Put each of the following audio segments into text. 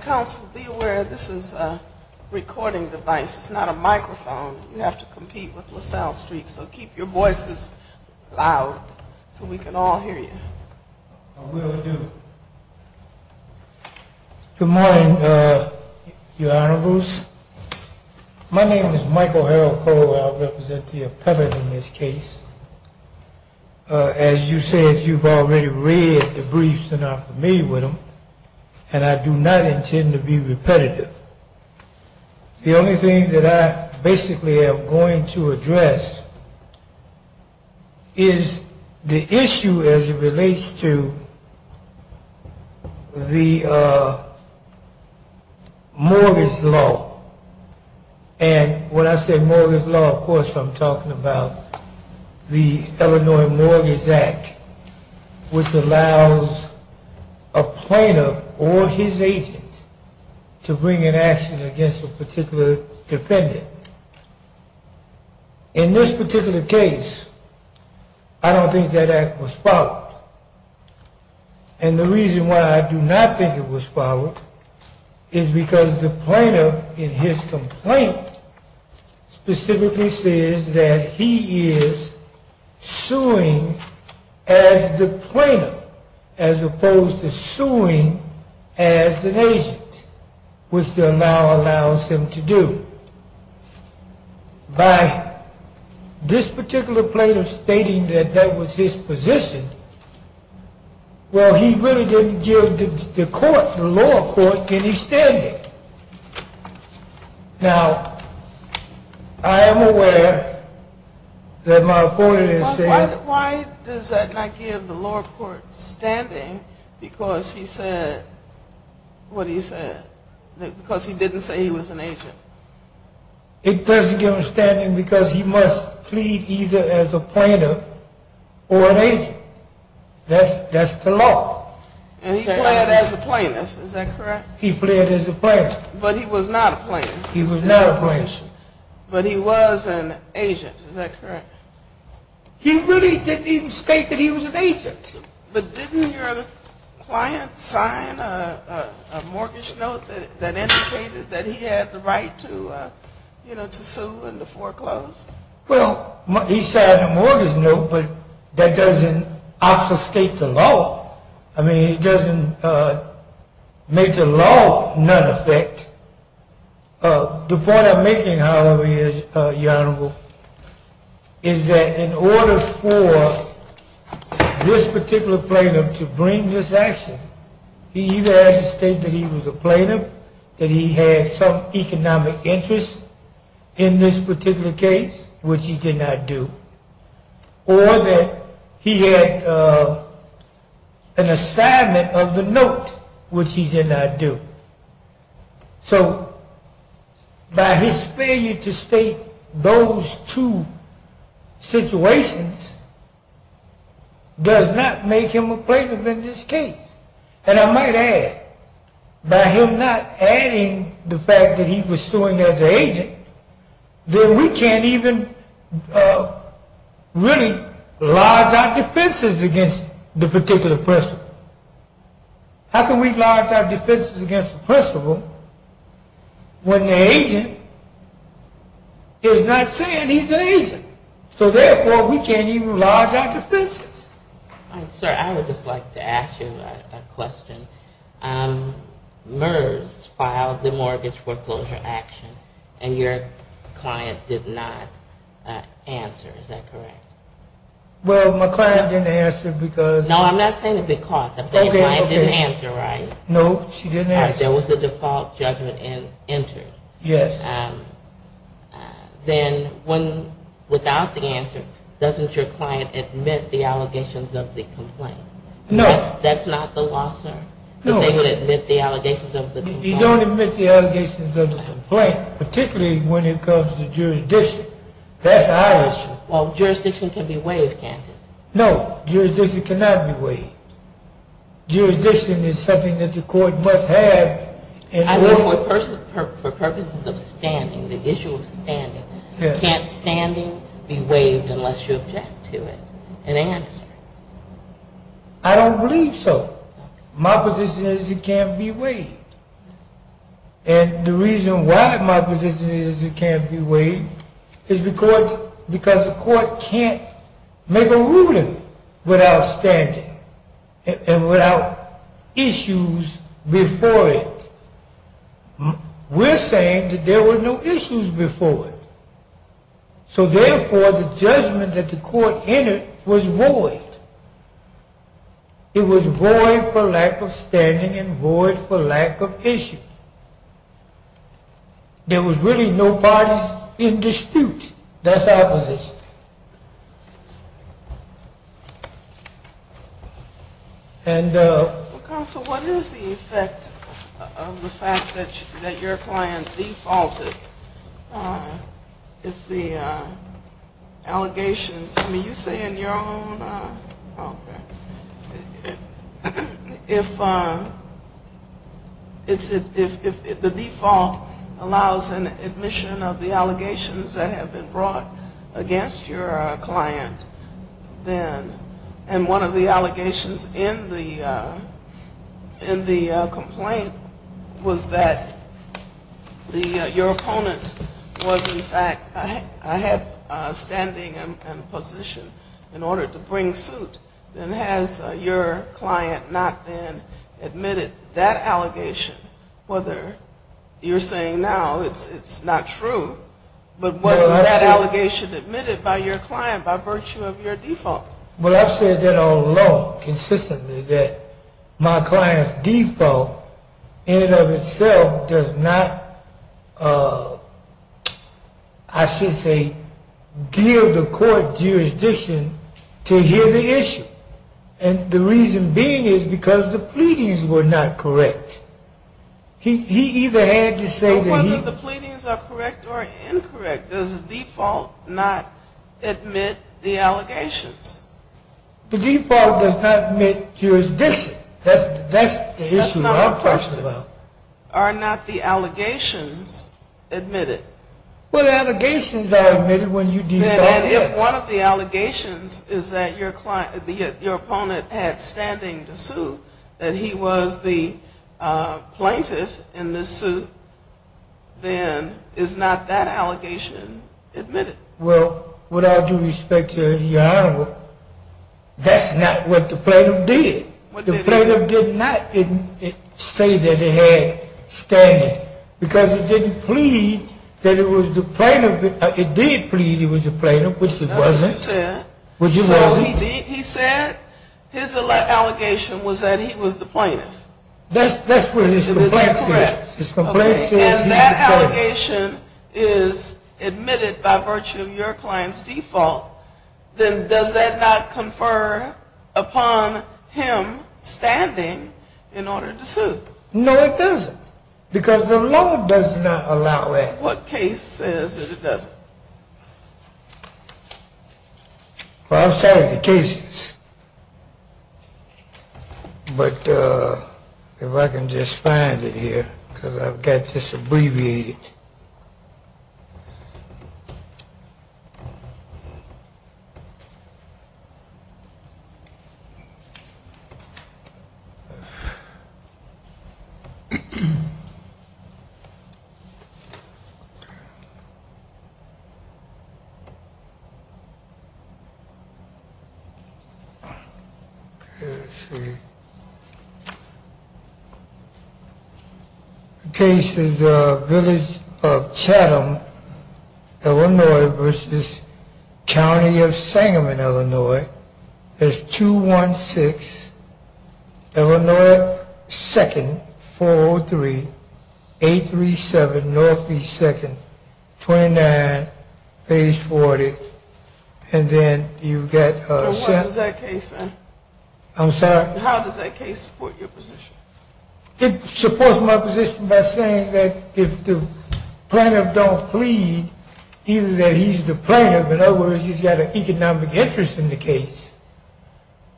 Council, be aware this is a recording device, it's not a microphone. You have to compete with LaSalle Street, so keep your voices loud so we can all hear you. I will do. Good morning, your honorables. My name is Michael Harold Cole, I represent the appellate in this case. As you said, you've already read the briefs and are familiar with them, and I do not intend to be repetitive. The only thing that I basically am going to address is the issue as it relates to the mortgage law. And when I say mortgage law, of course I'm talking about the Illinois Mortgage Act, which allows a plaintiff to bring an action against a particular defendant. In this particular case, I don't think that act was followed. And the reason why I do not think it was followed is because the plaintiff in his complaint specifically says that he is suing as the plaintiff, as opposed to suing as an agent, which the law allows him to do. By this particular plaintiff stating that that was his position, well, he really didn't give the court, the lower court, any standing. Why does that not give the lower court standing because he said, what he said, because he didn't say he was an agent? It doesn't give him standing because he must plead either as a plaintiff or an agent. That's the law. And he pleaded as a plaintiff, is that correct? He pleaded as a plaintiff. But he was not a plaintiff. He was not a plaintiff. But he was an agent, is that correct? He really didn't even state that he was an agent. But didn't your client sign a mortgage note that indicated that he had the right to sue and to foreclose? Well, he signed a mortgage note, but that doesn't obfuscate the law. I mean, it doesn't make the law none effect. The point I'm making, however, Your Honor, is that in order for this particular plaintiff to bring this action, he either had to state that he was a plaintiff, that he had some economic interest in this particular case, which he did not do, or that he had an assignment of the note, which he did not do. So by his failure to state those two situations does not make him a plaintiff in this case. And I might add, by him not adding the fact that he was suing as an agent, then we can't even really lodge our defenses against the particular person. How can we lodge our defenses against the principal when the agent is not saying he's an agent? So therefore, we can't even lodge our defenses. Sir, I would just like to ask you a question. MERS filed the mortgage foreclosure action and your client did not answer, is that correct? Well, my client didn't answer because No, I'm not saying because. Okay, okay. My client didn't answer, right? No, she didn't answer. There was a default judgment entered. Yes. Then without the answer, doesn't your client admit the allegations of the complaint? No. That's not the law, sir? No. That they would admit the allegations of the complaint? You don't admit the allegations of the complaint, particularly when it comes to jurisdiction. That's our issue. Well, jurisdiction can be waived, can't it? No, jurisdiction cannot be waived. Jurisdiction is something that the court must have. I know for purposes of standing, the issue of standing, can't standing be waived unless you object to it and answer? I don't believe so. My position is it can't be waived. And the reason why my position is it can't be waived is because the court can't make a ruling without standing and without issues before it. It was waived for lack of standing and waived for lack of issues. There was really no parties in dispute. That's our position. And, counsel, what is the effect of the fact that your client defaulted if the allegations, I mean, you say in your own, okay, if the default allows an admission of the allegations that have been brought against you, and one of the allegations in the complaint was that your opponent was, in fact, had standing and position in order to bring suit, then has your client not then admitted that allegation, whether you're saying now it's not true, but was that allegation admitted by your client? Well, I've said that all along, consistently, that my client's default in and of itself does not, I should say, give the court jurisdiction to hear the issue. And the reason being is because the pleadings were not correct. He either had to say that he The pleadings are correct or incorrect. Does the default not admit the allegations? The default does not admit jurisdiction. That's the issue I'm concerned about. Are not the allegations admitted? Well, the allegations are admitted when you default, yes. And if one of the allegations is that your opponent had standing to sue, that he was the plaintiff in the suit, then is not that allegation admitted? Well, with all due respect, Your Honor, that's not what the plaintiff did. The plaintiff did not say that he had standing, because it didn't plead that he was the plaintiff. It did plead he was the plaintiff, which he wasn't. That's what you said. Which he wasn't. So he said his allegation was that he was the plaintiff. That's what his complaint says. And that allegation is admitted by virtue of your client's default, then does that not confer upon him standing in order to sue? No, it doesn't. Because the law does not allow that. What case says that it doesn't? Well, I've cited the cases. But if I can just find it here, because I've got this abbreviated. Okay, let's see. The case is Village of Chatham, Illinois v. County of Sangamon, Illinois. There's 216, Illinois 2nd, 403, 837 Northeast 2nd, 29, page 40. And then you've got… What does that case say? I'm sorry? How does that case support your position? It supports my position by saying that if the plaintiff don't plead, either that he's the plaintiff, in other words, he's got an economic interest in the case,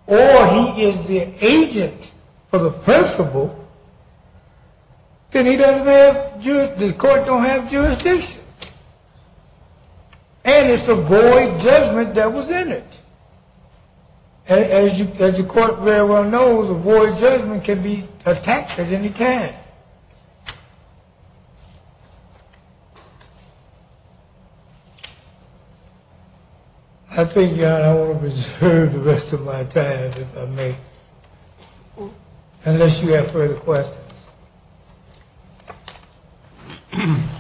or he is the agent for the principal, then the court don't have jurisdiction. And it's a void judgment that was in it. And as the court very well knows, a void judgment can be attacked at any time. I think, John, I want to reserve the rest of my time, if I may, unless you have further questions. Then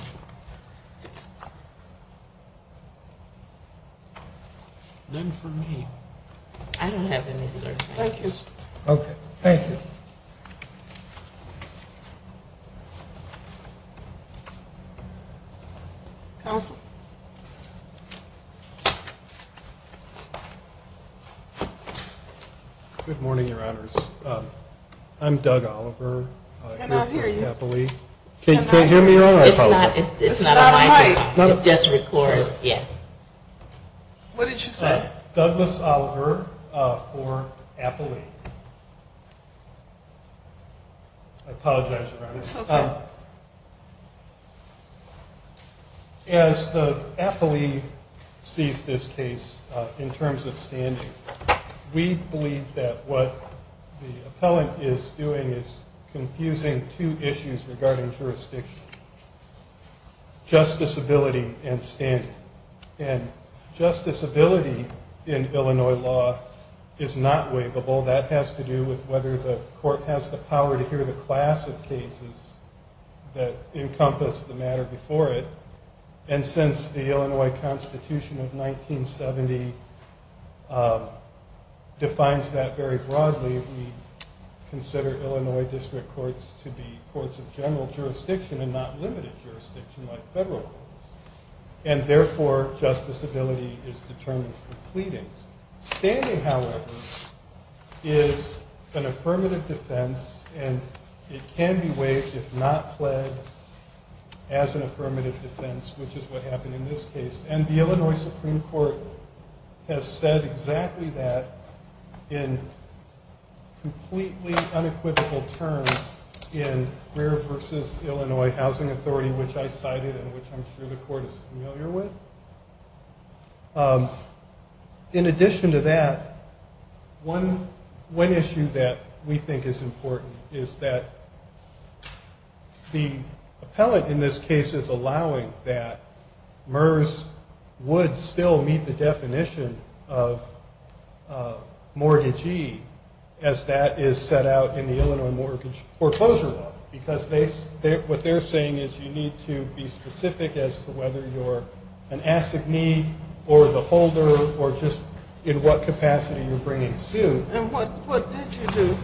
for me. I don't have any, sir. Thank you, sir. Okay, thank you. Counsel? Good morning, your honors. I'm Doug Oliver. I cannot hear you. Can you hear me all right? It's not on mic. It's just recorded. What did you say? Douglas Oliver for appellee. I apologize, your honors. It's okay. As the appellee sees this case in terms of standing, we believe that what the appellant is doing is confusing two issues regarding jurisdiction. Justice ability and standing. And justice ability in Illinois law is not waivable. That has to do with whether the court has the power to hear the class of cases that encompass the matter before it. And since the Illinois Constitution of 1970 defines that very broadly, we consider Illinois district courts to be courts of general jurisdiction and not limited jurisdiction like federal courts. And therefore, justice ability is determined through pleadings. Standing, however, is an affirmative defense, and it can be waived if not pledged as an affirmative defense, which is what happened in this case. And the Illinois Supreme Court has said exactly that in completely unequivocal terms in Greer v. Illinois Housing Authority, which I cited and which I'm sure the court is familiar with. In addition to that, one issue that we think is important is that the appellant in this case is allowing that MERS would still meet the definition of mortgagee as that is set out in the Illinois Mortgage Foreclosure Law. Because what they're saying is you need to be specific as to whether you're an assignee or the holder or just in what capacity you're bringing suit. And what did you do?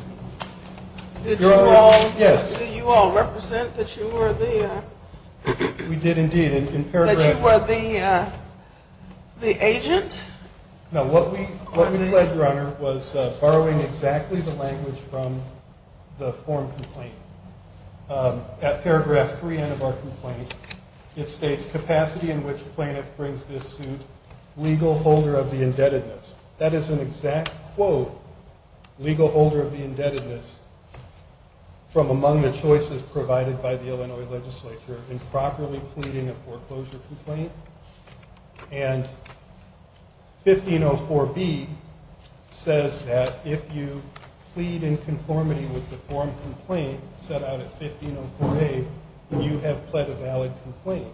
Did you all represent that you were the agent? No, what we did, Your Honor, was borrowing exactly the language from the form complaint. At paragraph 3 of our complaint, it states capacity in which plaintiff brings this suit, legal holder of the indebtedness. That is an exact quote, legal holder of the indebtedness from among the choices provided by the Illinois legislature in properly pleading a foreclosure complaint. And 1504B says that if you plead in conformity with the form complaint set out in 1504A, you have pled a valid complaint.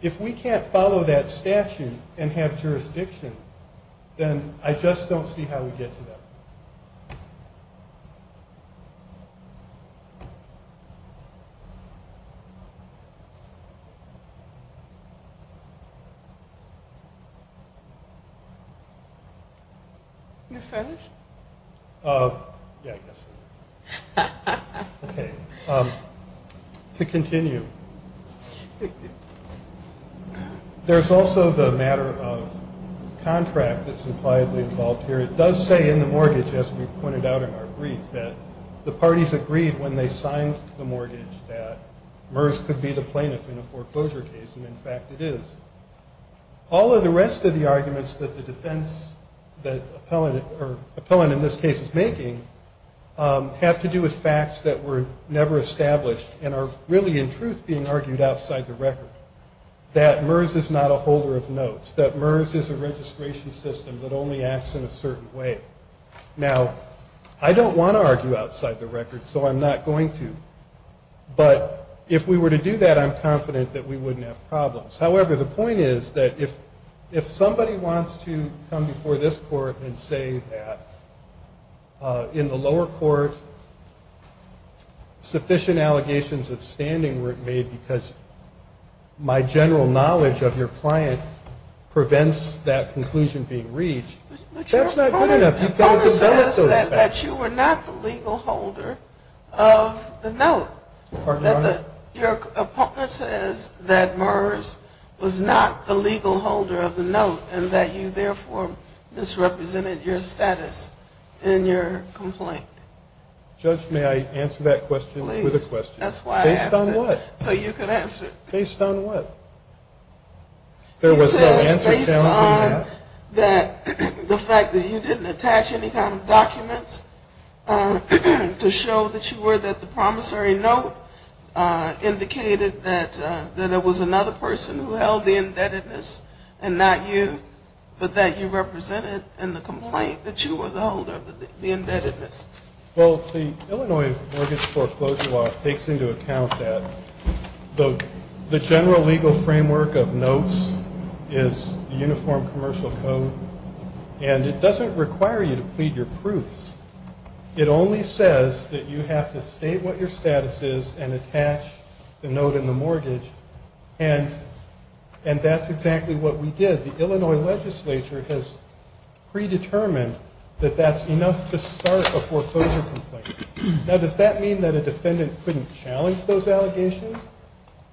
If we can't follow that statute and have jurisdiction, then I just don't see how we get to that. You're finished? Yeah, I guess so. Okay. To continue, there's also the matter of contract that's impliedly involved here. It does say in the mortgage, as we pointed out in our brief, that the parties agreed when they signed the mortgage that MERS could be the plaintiff in a foreclosure case. And, in fact, it is. All of the rest of the arguments that the defense that Appellant in this case is making have to do with facts that were never established and are really, in truth, being argued outside the record, that MERS is not a holder of notes, that MERS is a registration system that only acts in a certain way. Now, I don't want to argue outside the record, so I'm not going to. But if we were to do that, I'm confident that we wouldn't have problems. However, the point is that if somebody wants to come before this court and say that in the lower court sufficient allegations of standing were made because my general knowledge of your client prevents that conclusion being reached, that's not good enough. Your opponent says that you were not the legal holder of the note. Your opponent says that MERS was not the legal holder of the note and that you therefore misrepresented your status in your complaint. Judge, may I answer that question with a question? Please. That's why I asked it. Based on what? So you can answer it. Based on what? It says based on the fact that you didn't attach any kind of documents to show that you were the promissory note, indicated that it was another person who held the indebtedness and not you, but that you represented in the complaint that you were the holder of the indebtedness. Well, the Illinois mortgage foreclosure law takes into account that. The general legal framework of notes is the Uniform Commercial Code, and it doesn't require you to plead your proofs. It only says that you have to state what your status is and attach the note and the mortgage, and that's exactly what we did. The Illinois legislature has predetermined that that's enough to start a foreclosure complaint. Now, does that mean that a defendant couldn't challenge those allegations,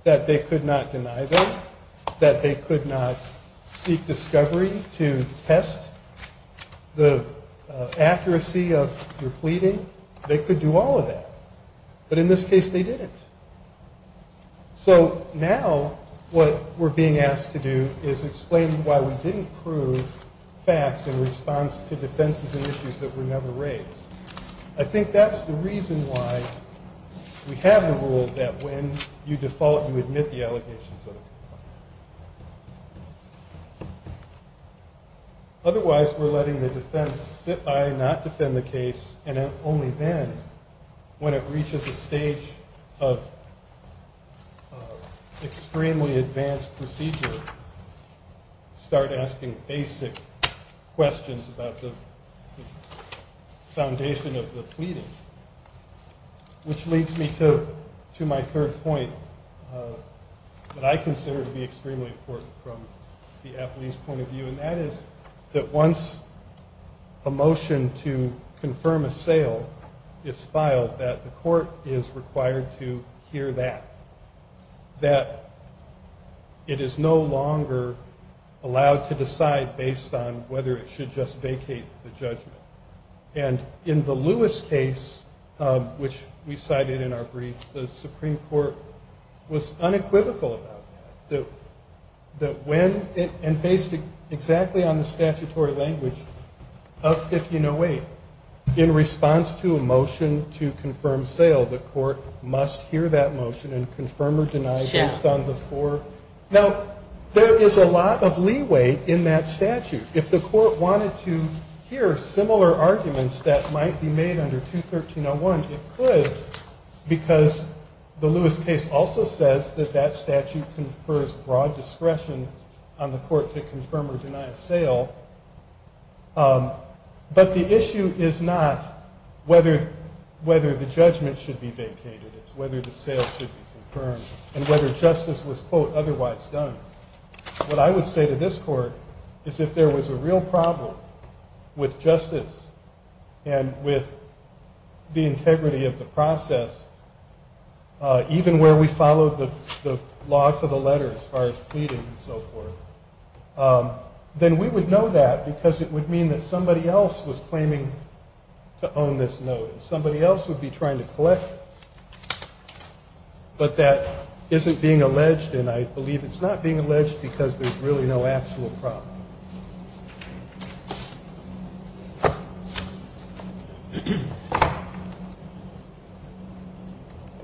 that they could not deny them, that they could not seek discovery to test the accuracy of your pleading? They could do all of that, but in this case they didn't. So now what we're being asked to do is explain why we didn't prove facts in response to defenses and issues that were never raised. I think that's the reason why we have the rule that when you default, you admit the allegations of default. Otherwise, we're letting the defense sit by and not defend the case, and only then, when it reaches a stage of extremely advanced procedure, start asking basic questions about the foundation of the pleading, which leads me to my third point that I consider to be extremely important from the athlete's point of view, and that is that once a motion to confirm a sale is filed, that the court is required to hear that, that it is no longer allowed to decide based on whether it should just vacate the judgment. And in the Lewis case, which we cited in our brief, the Supreme Court was unequivocal about that, that when, and based exactly on the statutory language of 1508, in response to a motion to confirm sale, the court must hear that motion and confirm or deny based on the four. Now, there is a lot of leeway in that statute. If the court wanted to hear similar arguments that might be made under 213.01, it could, because the Lewis case also says that that statute confers broad discretion on the court to confirm or deny a sale. But the issue is not whether the judgment should be vacated. It's whether the sale should be confirmed and whether justice was, quote, otherwise done. What I would say to this court is if there was a real problem with justice and with the integrity of the process, even where we followed the law to the letter as far as pleading and so forth, then we would know that because it would mean that somebody else was claiming to own this note and somebody else would be trying to collect it. But that isn't being alleged, and I believe it's not being alleged because there's really no actual problem.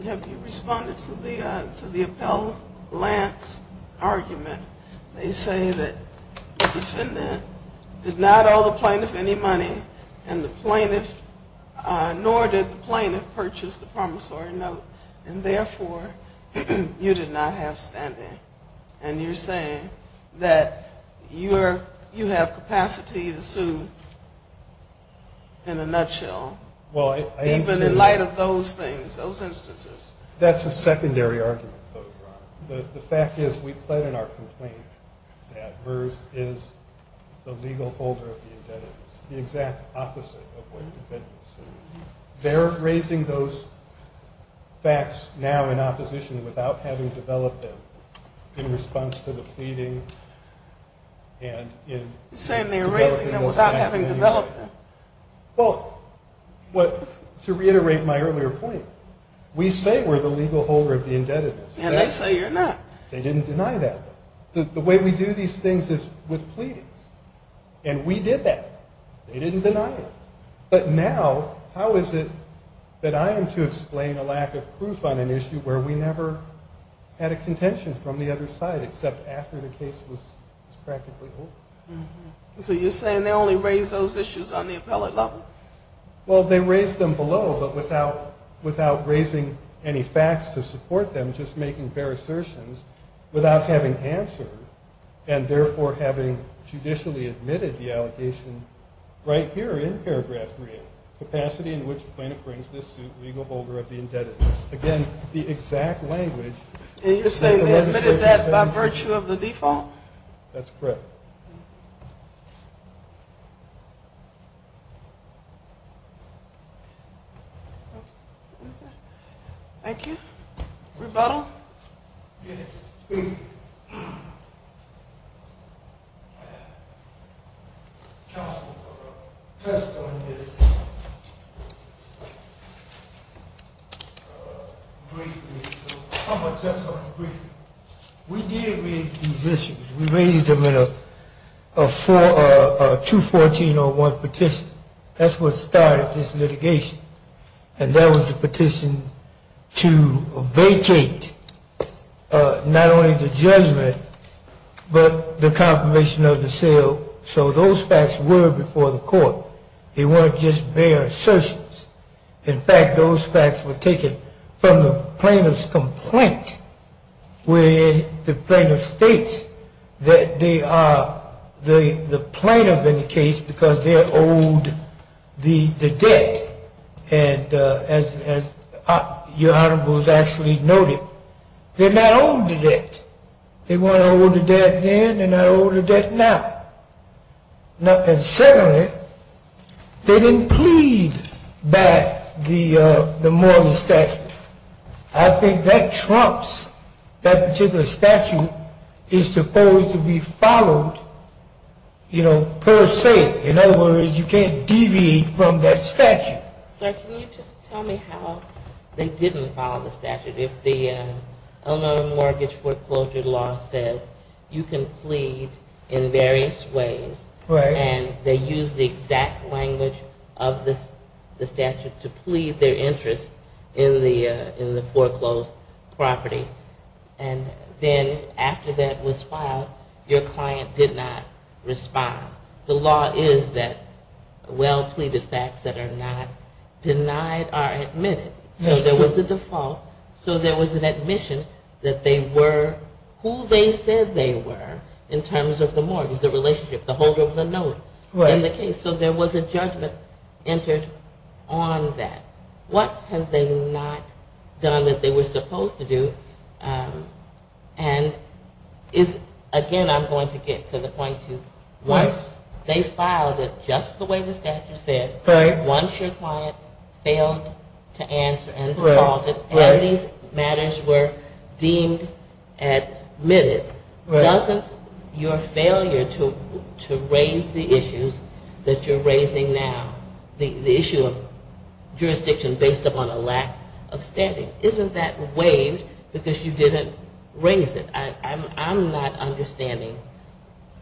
Have you responded to the Appellant's argument? They say that the defendant did not owe the plaintiff any money and the plaintiff, nor did the plaintiff purchase the promissory note, and therefore you did not have standing. And you're saying that you have capacity to sue in a nutshell, even in light of those things, those instances. That's a secondary argument, though, Your Honor. The fact is we pled in our complaint that VERS is the legal holder of the indebtedness, the exact opposite of what the defendant sued. They're raising those facts now in opposition without having developed them in response to the pleading. You're saying they're raising them without having developed them. Well, to reiterate my earlier point, we say we're the legal holder of the indebtedness. And they say you're not. They didn't deny that. The way we do these things is with pleadings, and we did that. They didn't deny it. But now how is it that I am to explain a lack of proof on an issue where we never had a contention from the other side except after the case was practically over? So you're saying they only raised those issues on the appellate level? Well, they raised them below but without raising any facts to support them, just making fair assertions without having answered and therefore having judicially admitted the allegation right here in paragraph 3, capacity in which the plaintiff brings this suit, legal holder of the indebtedness. Again, the exact language. And you're saying they admitted that by virtue of the default? That's correct. Okay. Thank you. Rebuttal? Yes. Thank you. Counsel, a test on this. I'm going to test on the brief. We did raise these issues. We raised them in a 214-01 petition. That's what started this litigation. And that was a petition to vacate not only the judgment but the confirmation of the sale. So those facts were before the court. They weren't just bare assertions. In fact, those facts were taken from the plaintiff's complaint where the plaintiff states that they are the plaintiff in the case because they're owed the debt. And as Your Honor was actually noted, they're not owed the debt. They weren't owed the debt then. They're not owed the debt now. And secondly, they didn't plead by the mortgage statute. I think that trumps that particular statute is supposed to be followed, you know, per se. In other words, you can't deviate from that statute. Sir, can you just tell me how they didn't follow the statute? If the Illinois Mortgage Foreclosure Law says you can plead in various ways and they use the exact language of the statute to plead their interest in the foreclosed property and then after that was filed, your client did not respond. The law is that well-pleaded facts that are not denied are admitted. So there was a default. So there was an admission that they were who they said they were in terms of the mortgage, the relationship, the holder of the note in the case. So there was a judgment entered on that. What have they not done that they were supposed to do? And again, I'm going to get to the point to once they filed it just the way the statute says, once your client failed to answer and defaulted and these matters were deemed admitted, doesn't your failure to raise the issues that you're raising now, the issue of jurisdiction based upon a lack of standing, isn't that waived because you didn't raise it? I'm not understanding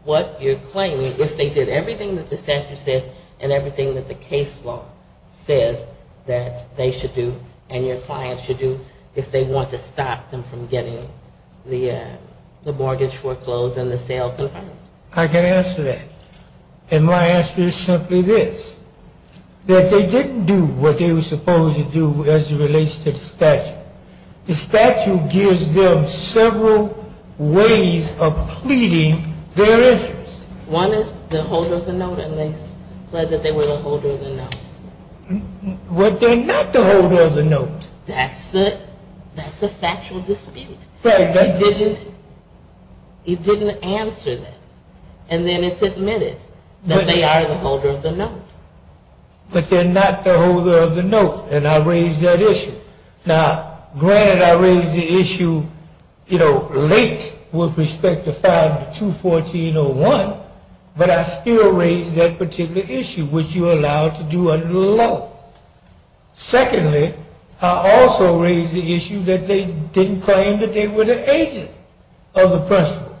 what you're claiming if they did everything that the statute says and everything that the case law says that they should do and your client should do if they want to stop them from getting the mortgage foreclosed and the sale confirmed. I can answer that. And my answer is simply this, that they didn't do what they were supposed to do as it relates to the statute. The statute gives them several ways of pleading their interest. One is the holder of the note and they pled that they were the holder of the note. But they're not the holder of the note. That's a factual dispute. It didn't answer that. And then it's admitted that they are the holder of the note. But they're not the holder of the note and I raised that issue. Now, granted I raised the issue, you know, late with respect to file 214.01, but I still raised that particular issue, which you're allowed to do under the law. Secondly, I also raised the issue that they didn't claim that they were the agent of the principal.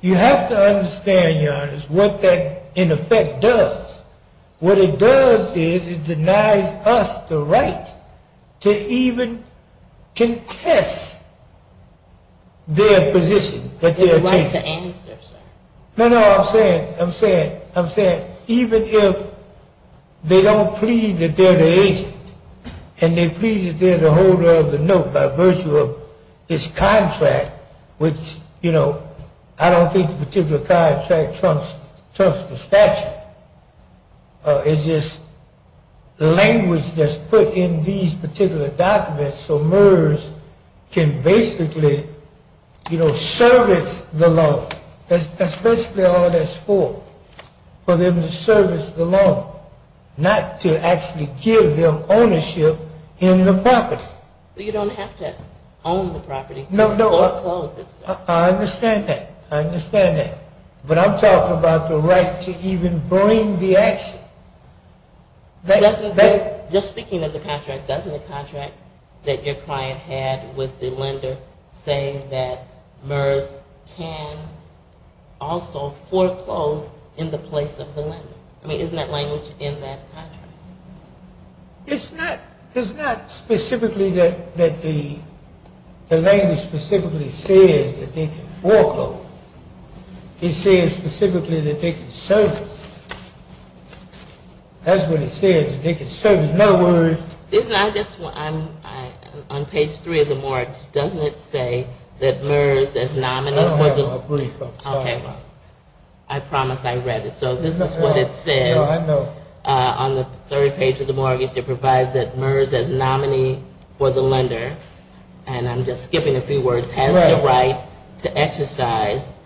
You have to understand, Your Honor, what that in effect does. What it does is it denies us the right to even contest their position. The right to answer, sir. No, no, I'm saying, I'm saying, I'm saying, even if they don't plead that they're the agent and they plead that they're the holder of the note by virtue of this contract, which, you know, I don't think the particular contract trumps the statute. It's just language that's put in these particular documents so MERS can basically, you know, service the loan. That's basically all that's for, for them to service the loan, not to actually give them ownership in the property. So you don't have to own the property. No, no. Or foreclose it, sir. I understand that. I understand that. But I'm talking about the right to even bring the action. Just speaking of the contract, doesn't the contract that your client had with the lender say that MERS can also foreclose in the place of the lender? I mean, isn't that language in that contract? It's not, it's not specifically that, that the, the language specifically says that they can foreclose. It says specifically that they can service. That's what it says, that they can service. In other words. Isn't that just what I'm, I, on page three of the mortgage, doesn't it say that MERS as nominee for the. I don't have my brief. I'm sorry. Okay. I promise I read it. So this is what it says. No, I know. On the third page of the mortgage, it provides that MERS as nominee for the lender, and I'm just skipping a few words, has the right to exercise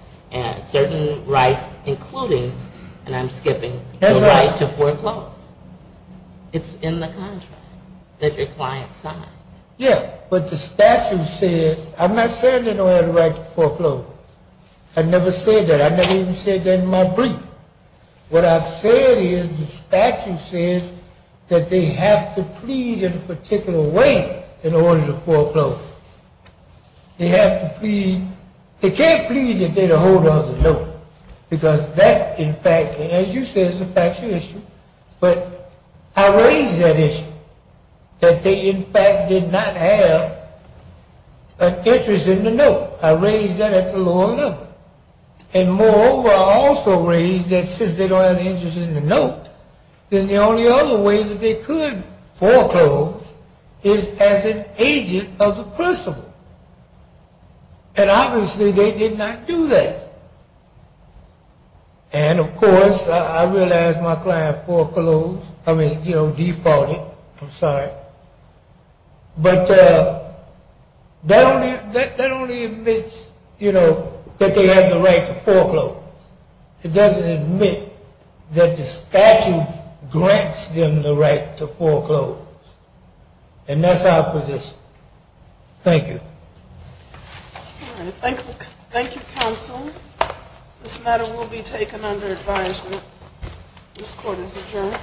certain rights, including, and I'm skipping, the right to foreclose. It's in the contract that your client signed. Yeah, but the statute says, I'm not saying they don't have the right to foreclose. I never said that. I never even said that in my brief. What I've said is the statute says that they have to plead in a particular way in order to foreclose. They have to plead. They can't plead if they're the holder of the note, because that, in fact, as you said, is a factual issue. But I raised that issue, that they, in fact, did not have an interest in the note. I raised that at the lower level. And moreover, I also raised that since they don't have an interest in the note, then the only other way that they could foreclose is as an agent of the principal. And obviously, they did not do that. And, of course, I realized my client foreclosed. I mean, you know, defaulted. I'm sorry. But that only admits, you know, that they have the right to foreclose. It doesn't admit that the statute grants them the right to foreclose. And that's our position. Thank you. All right. Thank you, counsel. This matter will be taken under advisement. This court is adjourned.